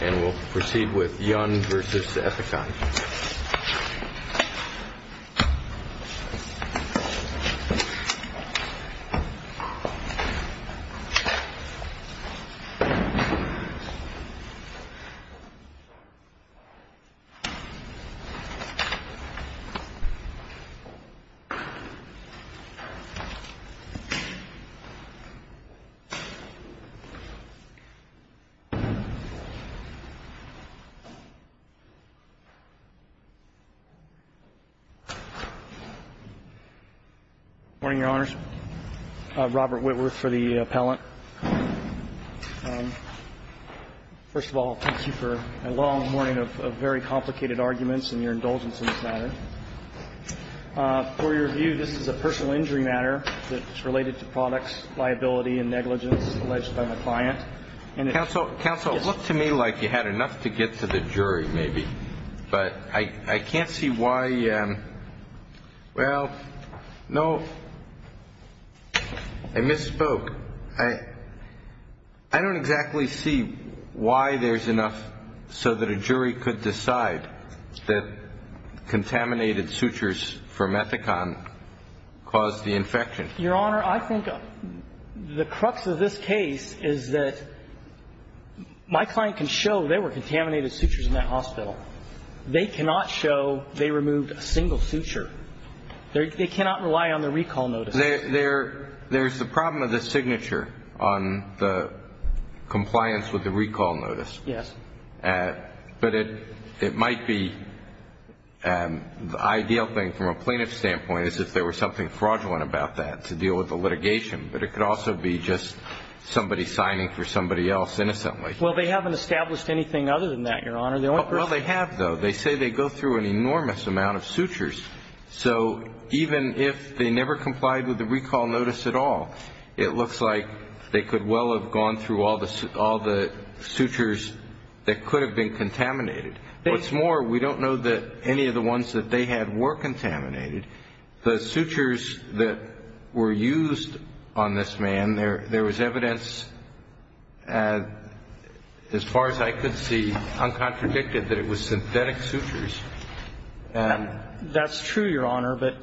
And we'll proceed with Yun v. Ethicon. Robert Whitworth for the appellant. First of all, thank you for a long morning of very complicated arguments and your indulgence in this matter. For your view, this is a personal injury matter that's related to products, liability issues, and I'm not going to go into that. And I'm not going to go into that. Counsel, look to me like you had enough to get to the jury, maybe. But I can't see why you – well, no, I misspoke. I don't exactly see why there's enough so that a jury could decide that contaminated sutures from Ethicon caused the infection. Your Honor, I think the crux of this case is that my client can show there were contaminated sutures in that hospital. They cannot show they removed a single suture. They cannot rely on the recall notice. There's the problem of the signature on the compliance with the recall notice. Yes. But it might be – the ideal thing from a plaintiff's standpoint is if there was something fraudulent about that to deal with the litigation. But it could also be just somebody signing for somebody else innocently. Well, they haven't established anything other than that, Your Honor. Well, they have, though. They say they go through an enormous amount of sutures. So even if they never complied with the recall notice at all, it looks like they could well have gone through all the sutures that could have been contaminated. What's more, we don't know that any of the ones that they had were contaminated. The sutures that were used on this man, there was evidence, as far as I could see, uncontradicted that it was synthetic sutures. That's true, Your Honor. But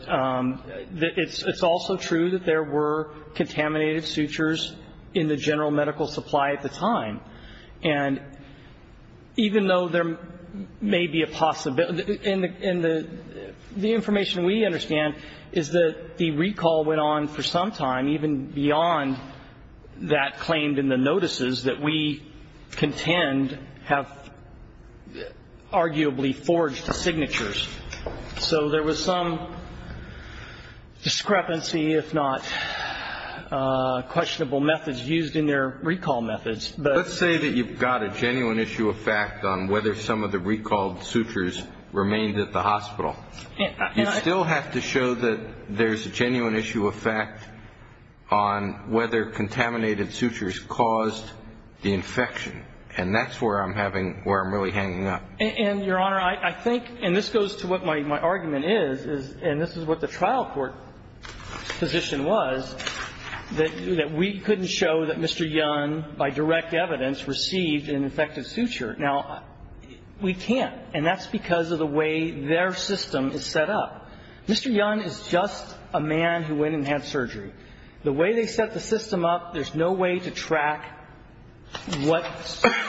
it's also true that there were contaminated sutures in the general medical supply at the time. And even though there may be a possibility – and the information we understand is that the recall went on for some time, even beyond that claimed in the notices that we contend have arguably forged the signatures. So there was some discrepancy, if not questionable methods used in their recall methods. Let's say that you've got a genuine issue of fact on whether some of the recalled sutures remained at the hospital. You still have to show that there's a genuine issue of fact on whether contaminated sutures caused the infection. And that's where I'm having – where I'm really hanging up. And, Your Honor, I think – and this goes to what my argument is, and this is what the trial court position was, that we couldn't show that Mr. Young, by direct evidence, received an infected suture. Now, we can't, and that's because of the way their system is set up. Mr. Young is just a man who went and had surgery. The way they set the system up, there's no way to track what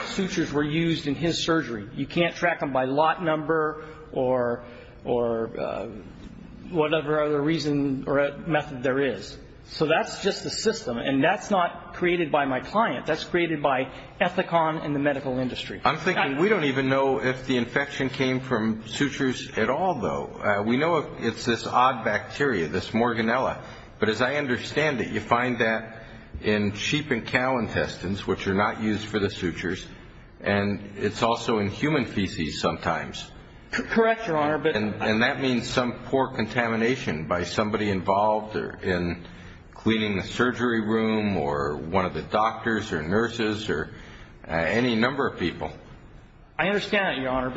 sutures were used in his surgery. You can't track them by lot number or whatever other reason or method there is. So that's just the system, and that's not created by my client. That's created by Ethicon and the medical industry. I'm thinking we don't even know if the infection came from sutures at all, though. We know it's this odd bacteria, this morganella. But as I understand it, you find that in sheep and cow intestines, which are not used for the sutures, and it's also in human feces sometimes. Correct, Your Honor. And that means some poor contamination by somebody involved in cleaning the surgery room or one of the doctors or nurses or any number of people. I understand that, Your Honor.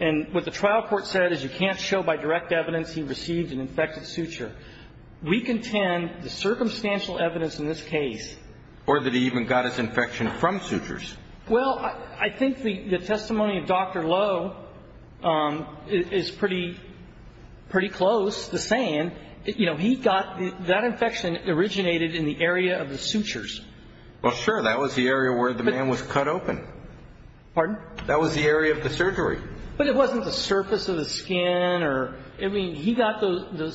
And what the trial court said is you can't show by direct evidence he received an infected suture. We contend the circumstantial evidence in this case. Or that he even got his infection from sutures. Well, I think the testimony of Dr. Lowe is pretty close to saying, you know, he got that infection originated in the area of the sutures. Well, sure. That was the area where the man was cut open. Pardon? That was the area of the surgery. But it wasn't the surface of the skin. I mean, he got the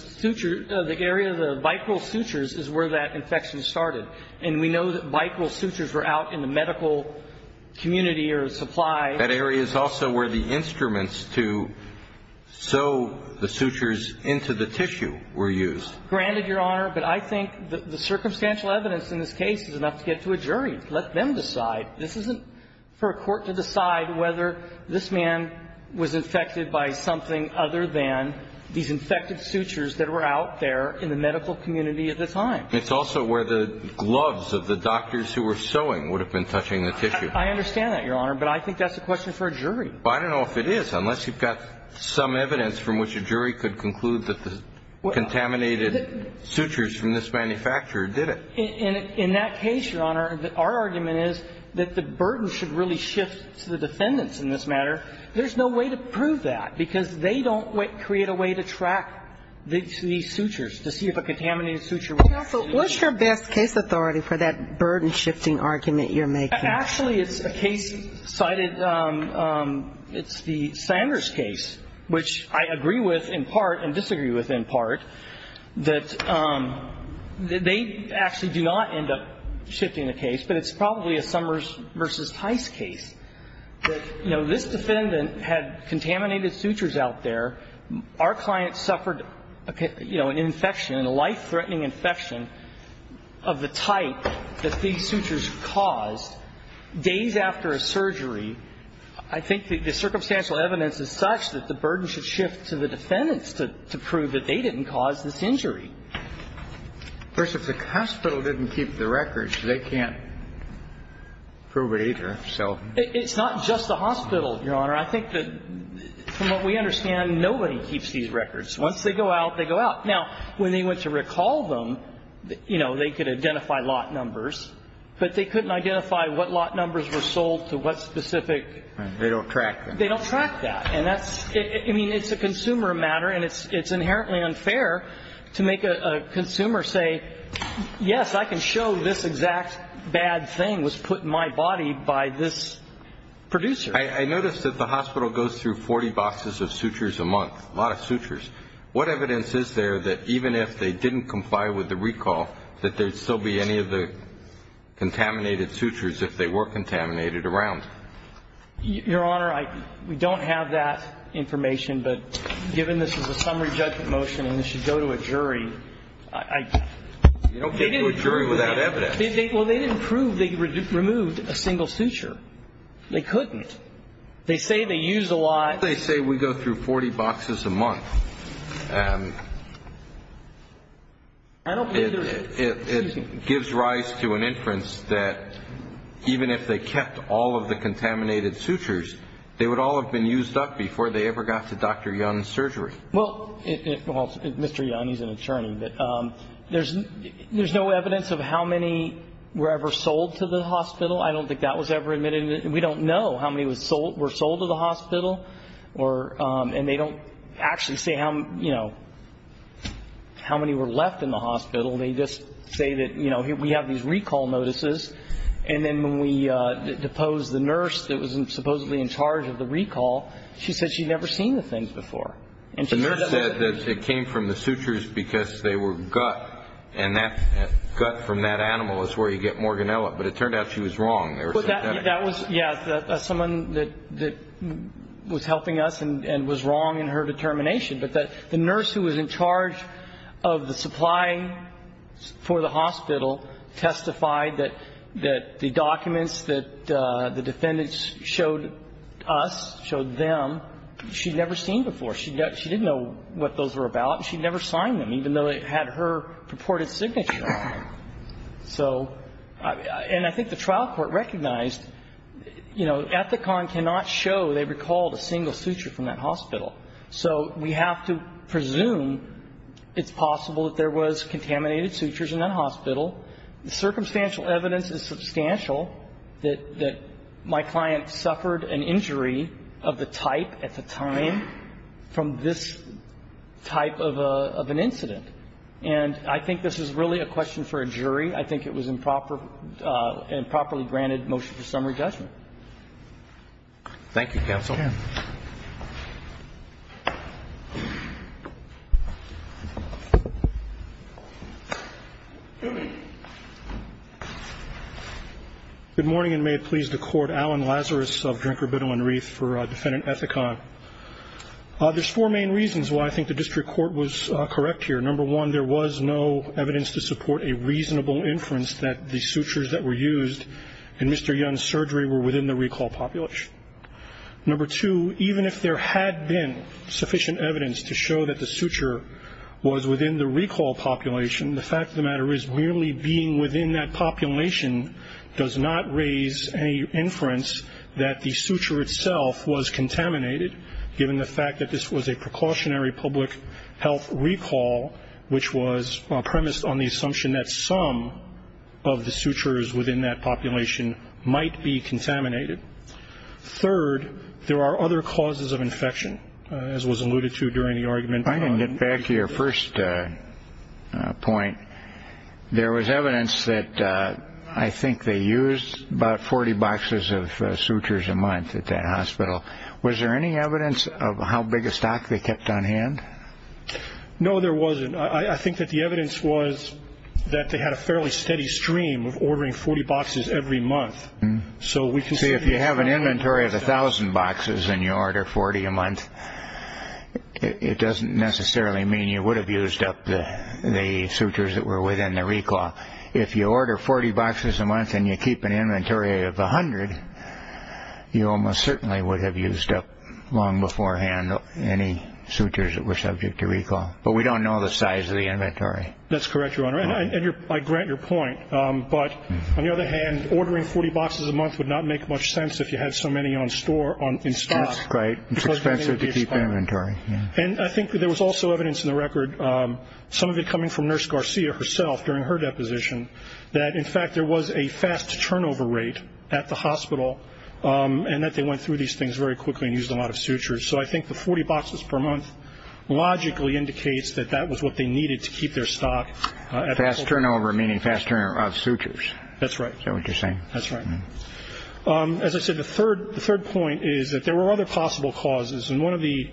area of the vicral sutures is where that infection started, and we know that vicral sutures were out in the medical community or supply. That area is also where the instruments to sew the sutures into the tissue were used. Granted, Your Honor, but I think the circumstantial evidence in this case is enough to get to a jury. Let them decide. This isn't for a court to decide whether this man was infected by something other than these infected sutures that were out there in the medical community at the time. It's also where the gloves of the doctors who were sewing would have been touching the tissue. I understand that, Your Honor, but I think that's a question for a jury. Well, I don't know if it is, unless you've got some evidence from which a jury could conclude that the contaminated sutures from this manufacturer did it. In that case, Your Honor, our argument is that the burden should really shift to the defendants in this matter. There's no way to prove that because they don't create a way to track these sutures to see if a contaminated suture was used. Counsel, what's your best case authority for that burden-shifting argument you're making? Actually, it's a case cited. It's the Sanders case, which I agree with in part and disagree with in part, that they actually do not end up shifting the case, but it's probably a Summers v. Tice case. You know, this defendant had contaminated sutures out there. Our client suffered, you know, an infection, a life-threatening infection of the type that these sutures caused days after a surgery. I think the circumstantial evidence is such that the burden should shift to the defendants to prove that they didn't cause this injury. Of course, if the hospital didn't keep the records, they can't prove it either. It's not just the hospital, Your Honor. I think that, from what we understand, nobody keeps these records. Once they go out, they go out. Now, when they went to recall them, you know, they could identify lot numbers, but they couldn't identify what lot numbers were sold to what specific. They don't track them. They don't track that. I mean, it's a consumer matter, and it's inherently unfair to make a consumer say, yes, I can show this exact bad thing was put in my body by this producer. I notice that the hospital goes through 40 boxes of sutures a month, a lot of sutures. What evidence is there that even if they didn't comply with the recall, that there would still be any of the contaminated sutures if they were contaminated around? Your Honor, we don't have that information, but given this is a summary judgment motion and this should go to a jury, I don't think that's true. You don't go to a jury without evidence. Well, they didn't prove they removed a single suture. They couldn't. They say they use a lot. They say we go through 40 boxes a month. It gives rise to an inference that even if they kept all of the contaminated sutures, they would all have been used up before they ever got to Dr. Young's surgery. Well, Mr. Young, he's an attorney, but there's no evidence of how many were ever sold to the hospital. I don't think that was ever admitted. We don't know how many were sold to the hospital, and they don't actually say how many were left in the hospital. They just say that, you know, we have these recall notices, and then when we deposed the nurse that was supposedly in charge of the recall, she said she'd never seen the things before. The nurse said that it came from the sutures because they were gut, and gut from that animal is where you get morganella. But it turned out she was wrong. They were synthetic. That was, yeah, someone that was helping us and was wrong in her determination. But the nurse who was in charge of the supply for the hospital testified that the documents that the defendants showed us, showed them, she'd never seen before. She didn't know what those were about, and she'd never signed them, even though it had her purported signature on it. So, and I think the trial court recognized, you know, Ethicon cannot show they recalled a single suture from that hospital. So we have to presume it's possible that there was contaminated sutures in that hospital. The circumstantial evidence is substantial that my client suffered an injury of the type at the time from this type of an incident. And I think this is really a question for a jury. I think it was an improperly granted motion for summary judgment. Thank you, counsel. Good morning, and may it please the Court. Alan Lazarus of Drinker, Biddle, and Reith for Defendant Ethicon. There's four main reasons why I think the district court was correct here. Number one, there was no evidence to support a reasonable inference that the sutures that were used in Mr. Young's surgery were within the recall population. Number two, even if there had been sufficient evidence to show that the suture was within the recall population, the fact of the matter is merely being within that population does not raise any inference that the suture itself was contaminated, given the fact that this was a precautionary public health recall, which was premised on the assumption that some of the sutures within that population might be contaminated. Third, there are other causes of infection, as was alluded to during the argument. I'm going to get back to your first point. There was evidence that I think they used about 40 boxes of sutures a month at that hospital. Was there any evidence of how big a stock they kept on hand? No, there wasn't. I think that the evidence was that they had a fairly steady stream of ordering 40 boxes every month. See, if you have an inventory of 1,000 boxes and you order 40 a month, it doesn't necessarily mean you would have used up the sutures that were within the recall. If you order 40 boxes a month and you keep an inventory of 100, you almost certainly would have used up long beforehand any sutures that were subject to recall. But we don't know the size of the inventory. That's correct, Your Honor, and I grant your point. But on the other hand, ordering 40 boxes a month would not make much sense if you had so many in stock. That's right. It's expensive to keep inventory. And I think there was also evidence in the record, some of it coming from Nurse Garcia herself during her deposition, that, in fact, there was a fast turnover rate at the hospital and that they went through these things very quickly and used a lot of sutures. So I think the 40 boxes per month logically indicates that that was what they needed to keep their stock. Fast turnover meaning fast turnover of sutures. That's right. Is that what you're saying? That's right. As I said, the third point is that there were other possible causes. And one of the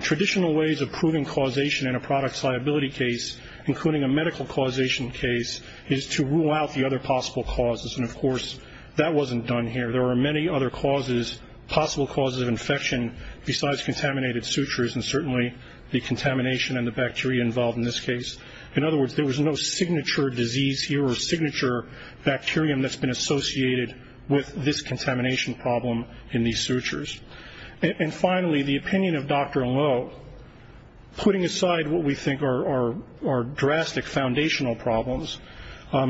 traditional ways of proving causation in a products liability case, including a medical causation case, is to rule out the other possible causes. And, of course, that wasn't done here. There are many other causes, possible causes of infection, besides contaminated sutures and certainly the contamination and the bacteria involved in this case. In other words, there was no signature disease here or signature bacterium that's been associated with this contamination problem in these sutures. And, finally, the opinion of Dr. Lowe, putting aside what we think are drastic foundational problems,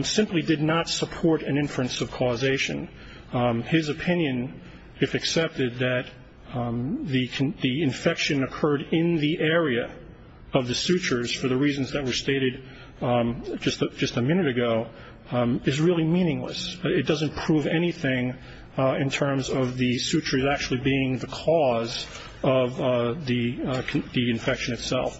simply did not support an inference of causation. His opinion, if accepted, that the infection occurred in the area of the sutures for the reasons that were stated just a minute ago is really meaningless. It doesn't prove anything in terms of the sutures actually being the cause of the infection itself.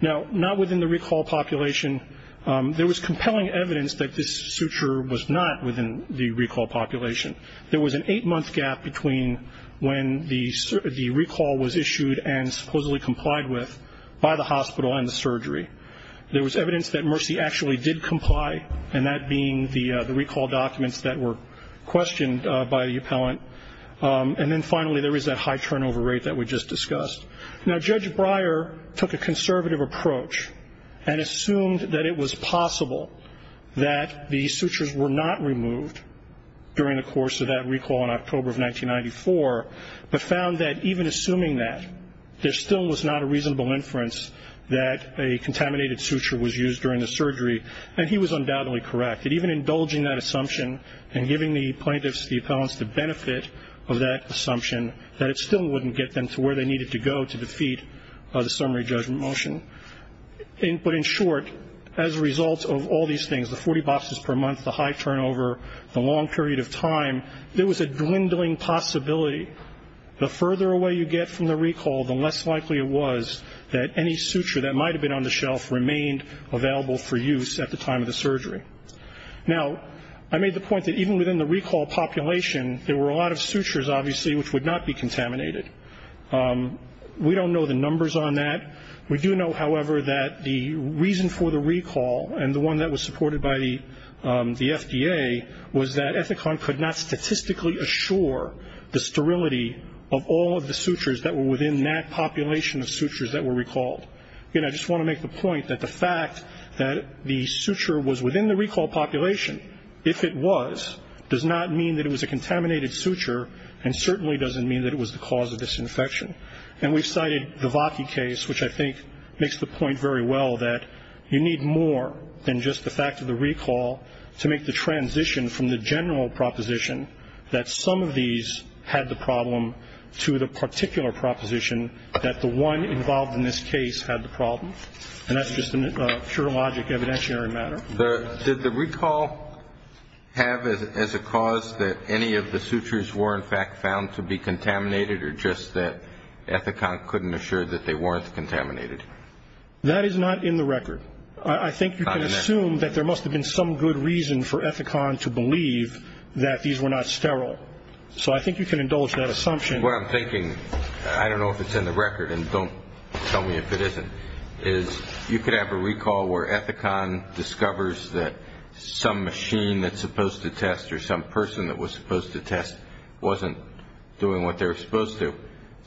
Now, not within the recall population, there was compelling evidence that this suture was not within the recall population. There was an eight-month gap between when the recall was issued and supposedly complied with by the hospital and the surgery. There was evidence that Mercy actually did comply, and that being the recall documents that were questioned by the appellant. And then, finally, there is that high turnover rate that we just discussed. Now, Judge Breyer took a conservative approach and assumed that it was possible that the sutures were not removed during the course of that recall in October of 1994, but found that, even assuming that, there still was not a reasonable inference that a contaminated suture was used during the surgery. And he was undoubtedly correct, that even indulging that assumption and giving the plaintiffs, the appellants, the benefit of that assumption, that it still wouldn't get them to where they needed to go to defeat the summary judgment motion. But, in short, as a result of all these things, the 40 boxes per month, the high turnover, the long period of time, there was a dwindling possibility. The further away you get from the recall, the less likely it was that any suture that might have been on the shelf remained available for use at the time of the surgery. Now, I made the point that, even within the recall population, there were a lot of sutures, obviously, which would not be contaminated. We don't know the numbers on that. We do know, however, that the reason for the recall, and the one that was supported by the FDA, was that Ethicon could not statistically assure the sterility of all of the sutures that were within that population of sutures that were recalled. Again, I just want to make the point that the fact that the suture was within the recall population, if it was, does not mean that it was a contaminated suture, and certainly doesn't mean that it was the cause of disinfection. And we've cited the Vaki case, which I think makes the point very well that you need more than just the fact of the recall to make the transition from the general proposition that some of these had the problem to the particular proposition that the one involved in this case had the problem. And that's just a pure logic evidentiary matter. Did the recall have as a cause that any of the sutures were, in fact, found to be contaminated, or just that Ethicon couldn't assure that they weren't contaminated? That is not in the record. I think you can assume that there must have been some good reason for Ethicon to believe that these were not sterile. So I think you can indulge that assumption. What I'm thinking, I don't know if it's in the record, and don't tell me if it isn't, is you could have a recall where Ethicon discovers that some machine that's supposed to test or some person that was supposed to test wasn't doing what they're supposed to,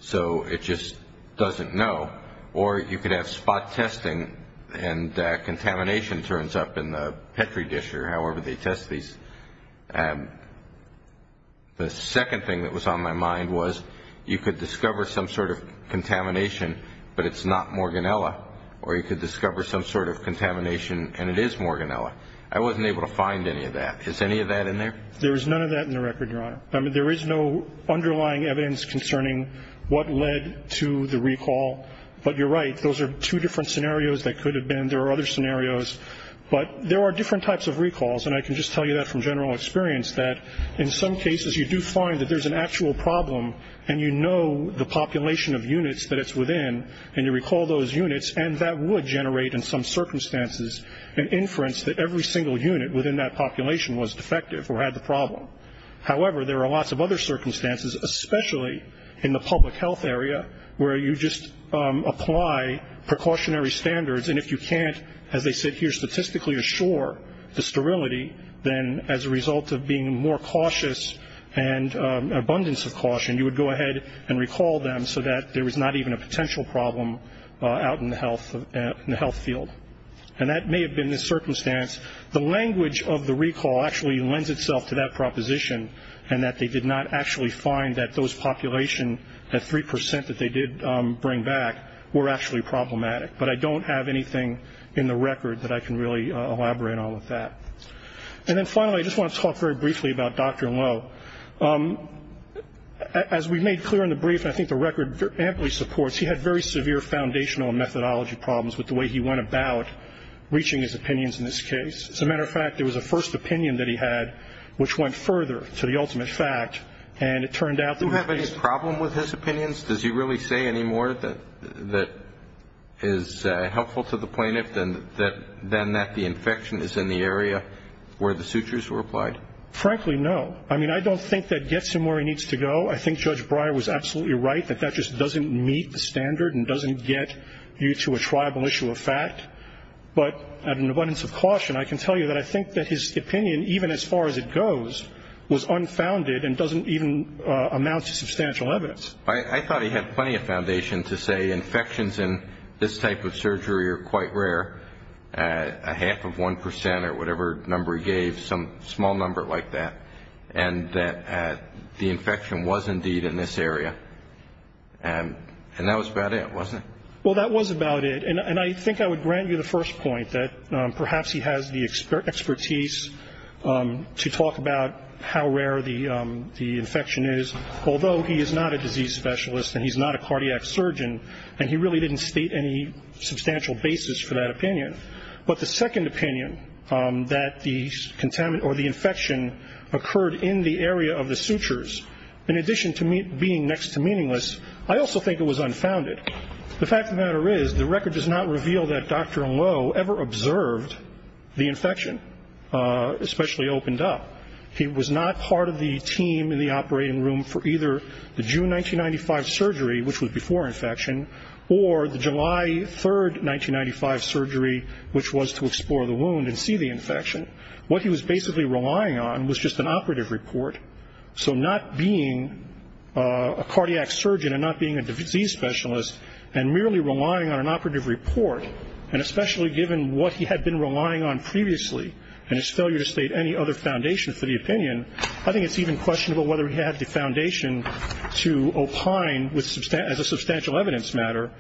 so it just doesn't know. Or you could have spot testing, and contamination turns up in the Petri dish or however they test these. The second thing that was on my mind was you could discover some sort of contamination, but it's not Morganella, or you could discover some sort of contamination, and it is Morganella. I wasn't able to find any of that. Is any of that in there? There is none of that in the record, Your Honor. There is no underlying evidence concerning what led to the recall. But you're right, those are two different scenarios that could have been. There are other scenarios. But there are different types of recalls, and I can just tell you that from general experience, that in some cases you do find that there's an actual problem, and you know the population of units that it's within, and you recall those units, and that would generate in some circumstances an inference that every single unit within that population was defective or had the problem. However, there are lots of other circumstances, especially in the public health area, where you just apply precautionary standards, and if you can't, as they said here, statistically assure the sterility, then as a result of being more cautious and abundance of caution, you would go ahead and recall them so that there was not even a potential problem out in the health field. And that may have been the circumstance. The language of the recall actually lends itself to that proposition, and that they did not actually find that those population at 3% that they did bring back were actually problematic. But I don't have anything in the record that I can really elaborate on with that. And then finally, I just want to talk very briefly about Dr. Lowe. As we made clear in the brief, and I think the record amply supports, he had very severe foundational and methodology problems with the way he went about reaching his opinions in this case. As a matter of fact, there was a first opinion that he had which went further to the ultimate fact, and it turned out that he faced- Do you have any problem with his opinions? Does he really say any more that is helpful to the plaintiff than that the infection is in the area where the sutures were applied? Frankly, no. I mean, I don't think that gets him where he needs to go. I think Judge Breyer was absolutely right that that just doesn't meet the standard and doesn't get you to a triable issue of fact. But at an abundance of caution, I can tell you that I think that his opinion, even as far as it goes, was unfounded and doesn't even amount to substantial evidence. I thought he had plenty of foundation to say infections in this type of surgery are quite rare, a half of 1% or whatever number he gave, some small number like that, and that the infection was indeed in this area. And that was about it, wasn't it? Well, that was about it. And I think I would grant you the first point that perhaps he has the expertise to talk about how rare the infection is, although he is not a disease specialist and he's not a cardiac surgeon, and he really didn't state any substantial basis for that opinion. But the second opinion, that the infection occurred in the area of the sutures, in addition to being next to meaningless, I also think it was unfounded. The fact of the matter is the record does not reveal that Dr. Lowe ever observed the infection, especially opened up. He was not part of the team in the operating room for either the June 1995 surgery, which was before infection, or the July 3, 1995 surgery, which was to explore the wound and see the infection. What he was basically relying on was just an operative report. So not being a cardiac surgeon and not being a disease specialist and merely relying on an operative report, and especially given what he had been relying on previously and his failure to state any other foundation for the opinion, I think it's even questionable whether he had the foundation to opine, as a substantial evidence matter,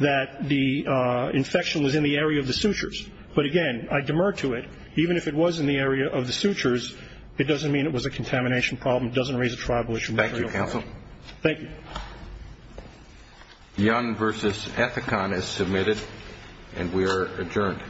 that the infection was in the area of the sutures. But, again, I demur to it. Even if it was in the area of the sutures, it doesn't mean it was a contamination problem. It doesn't raise a tribal issue. Thank you, counsel. Thank you. Young v. Ethicon is submitted, and we are adjourned.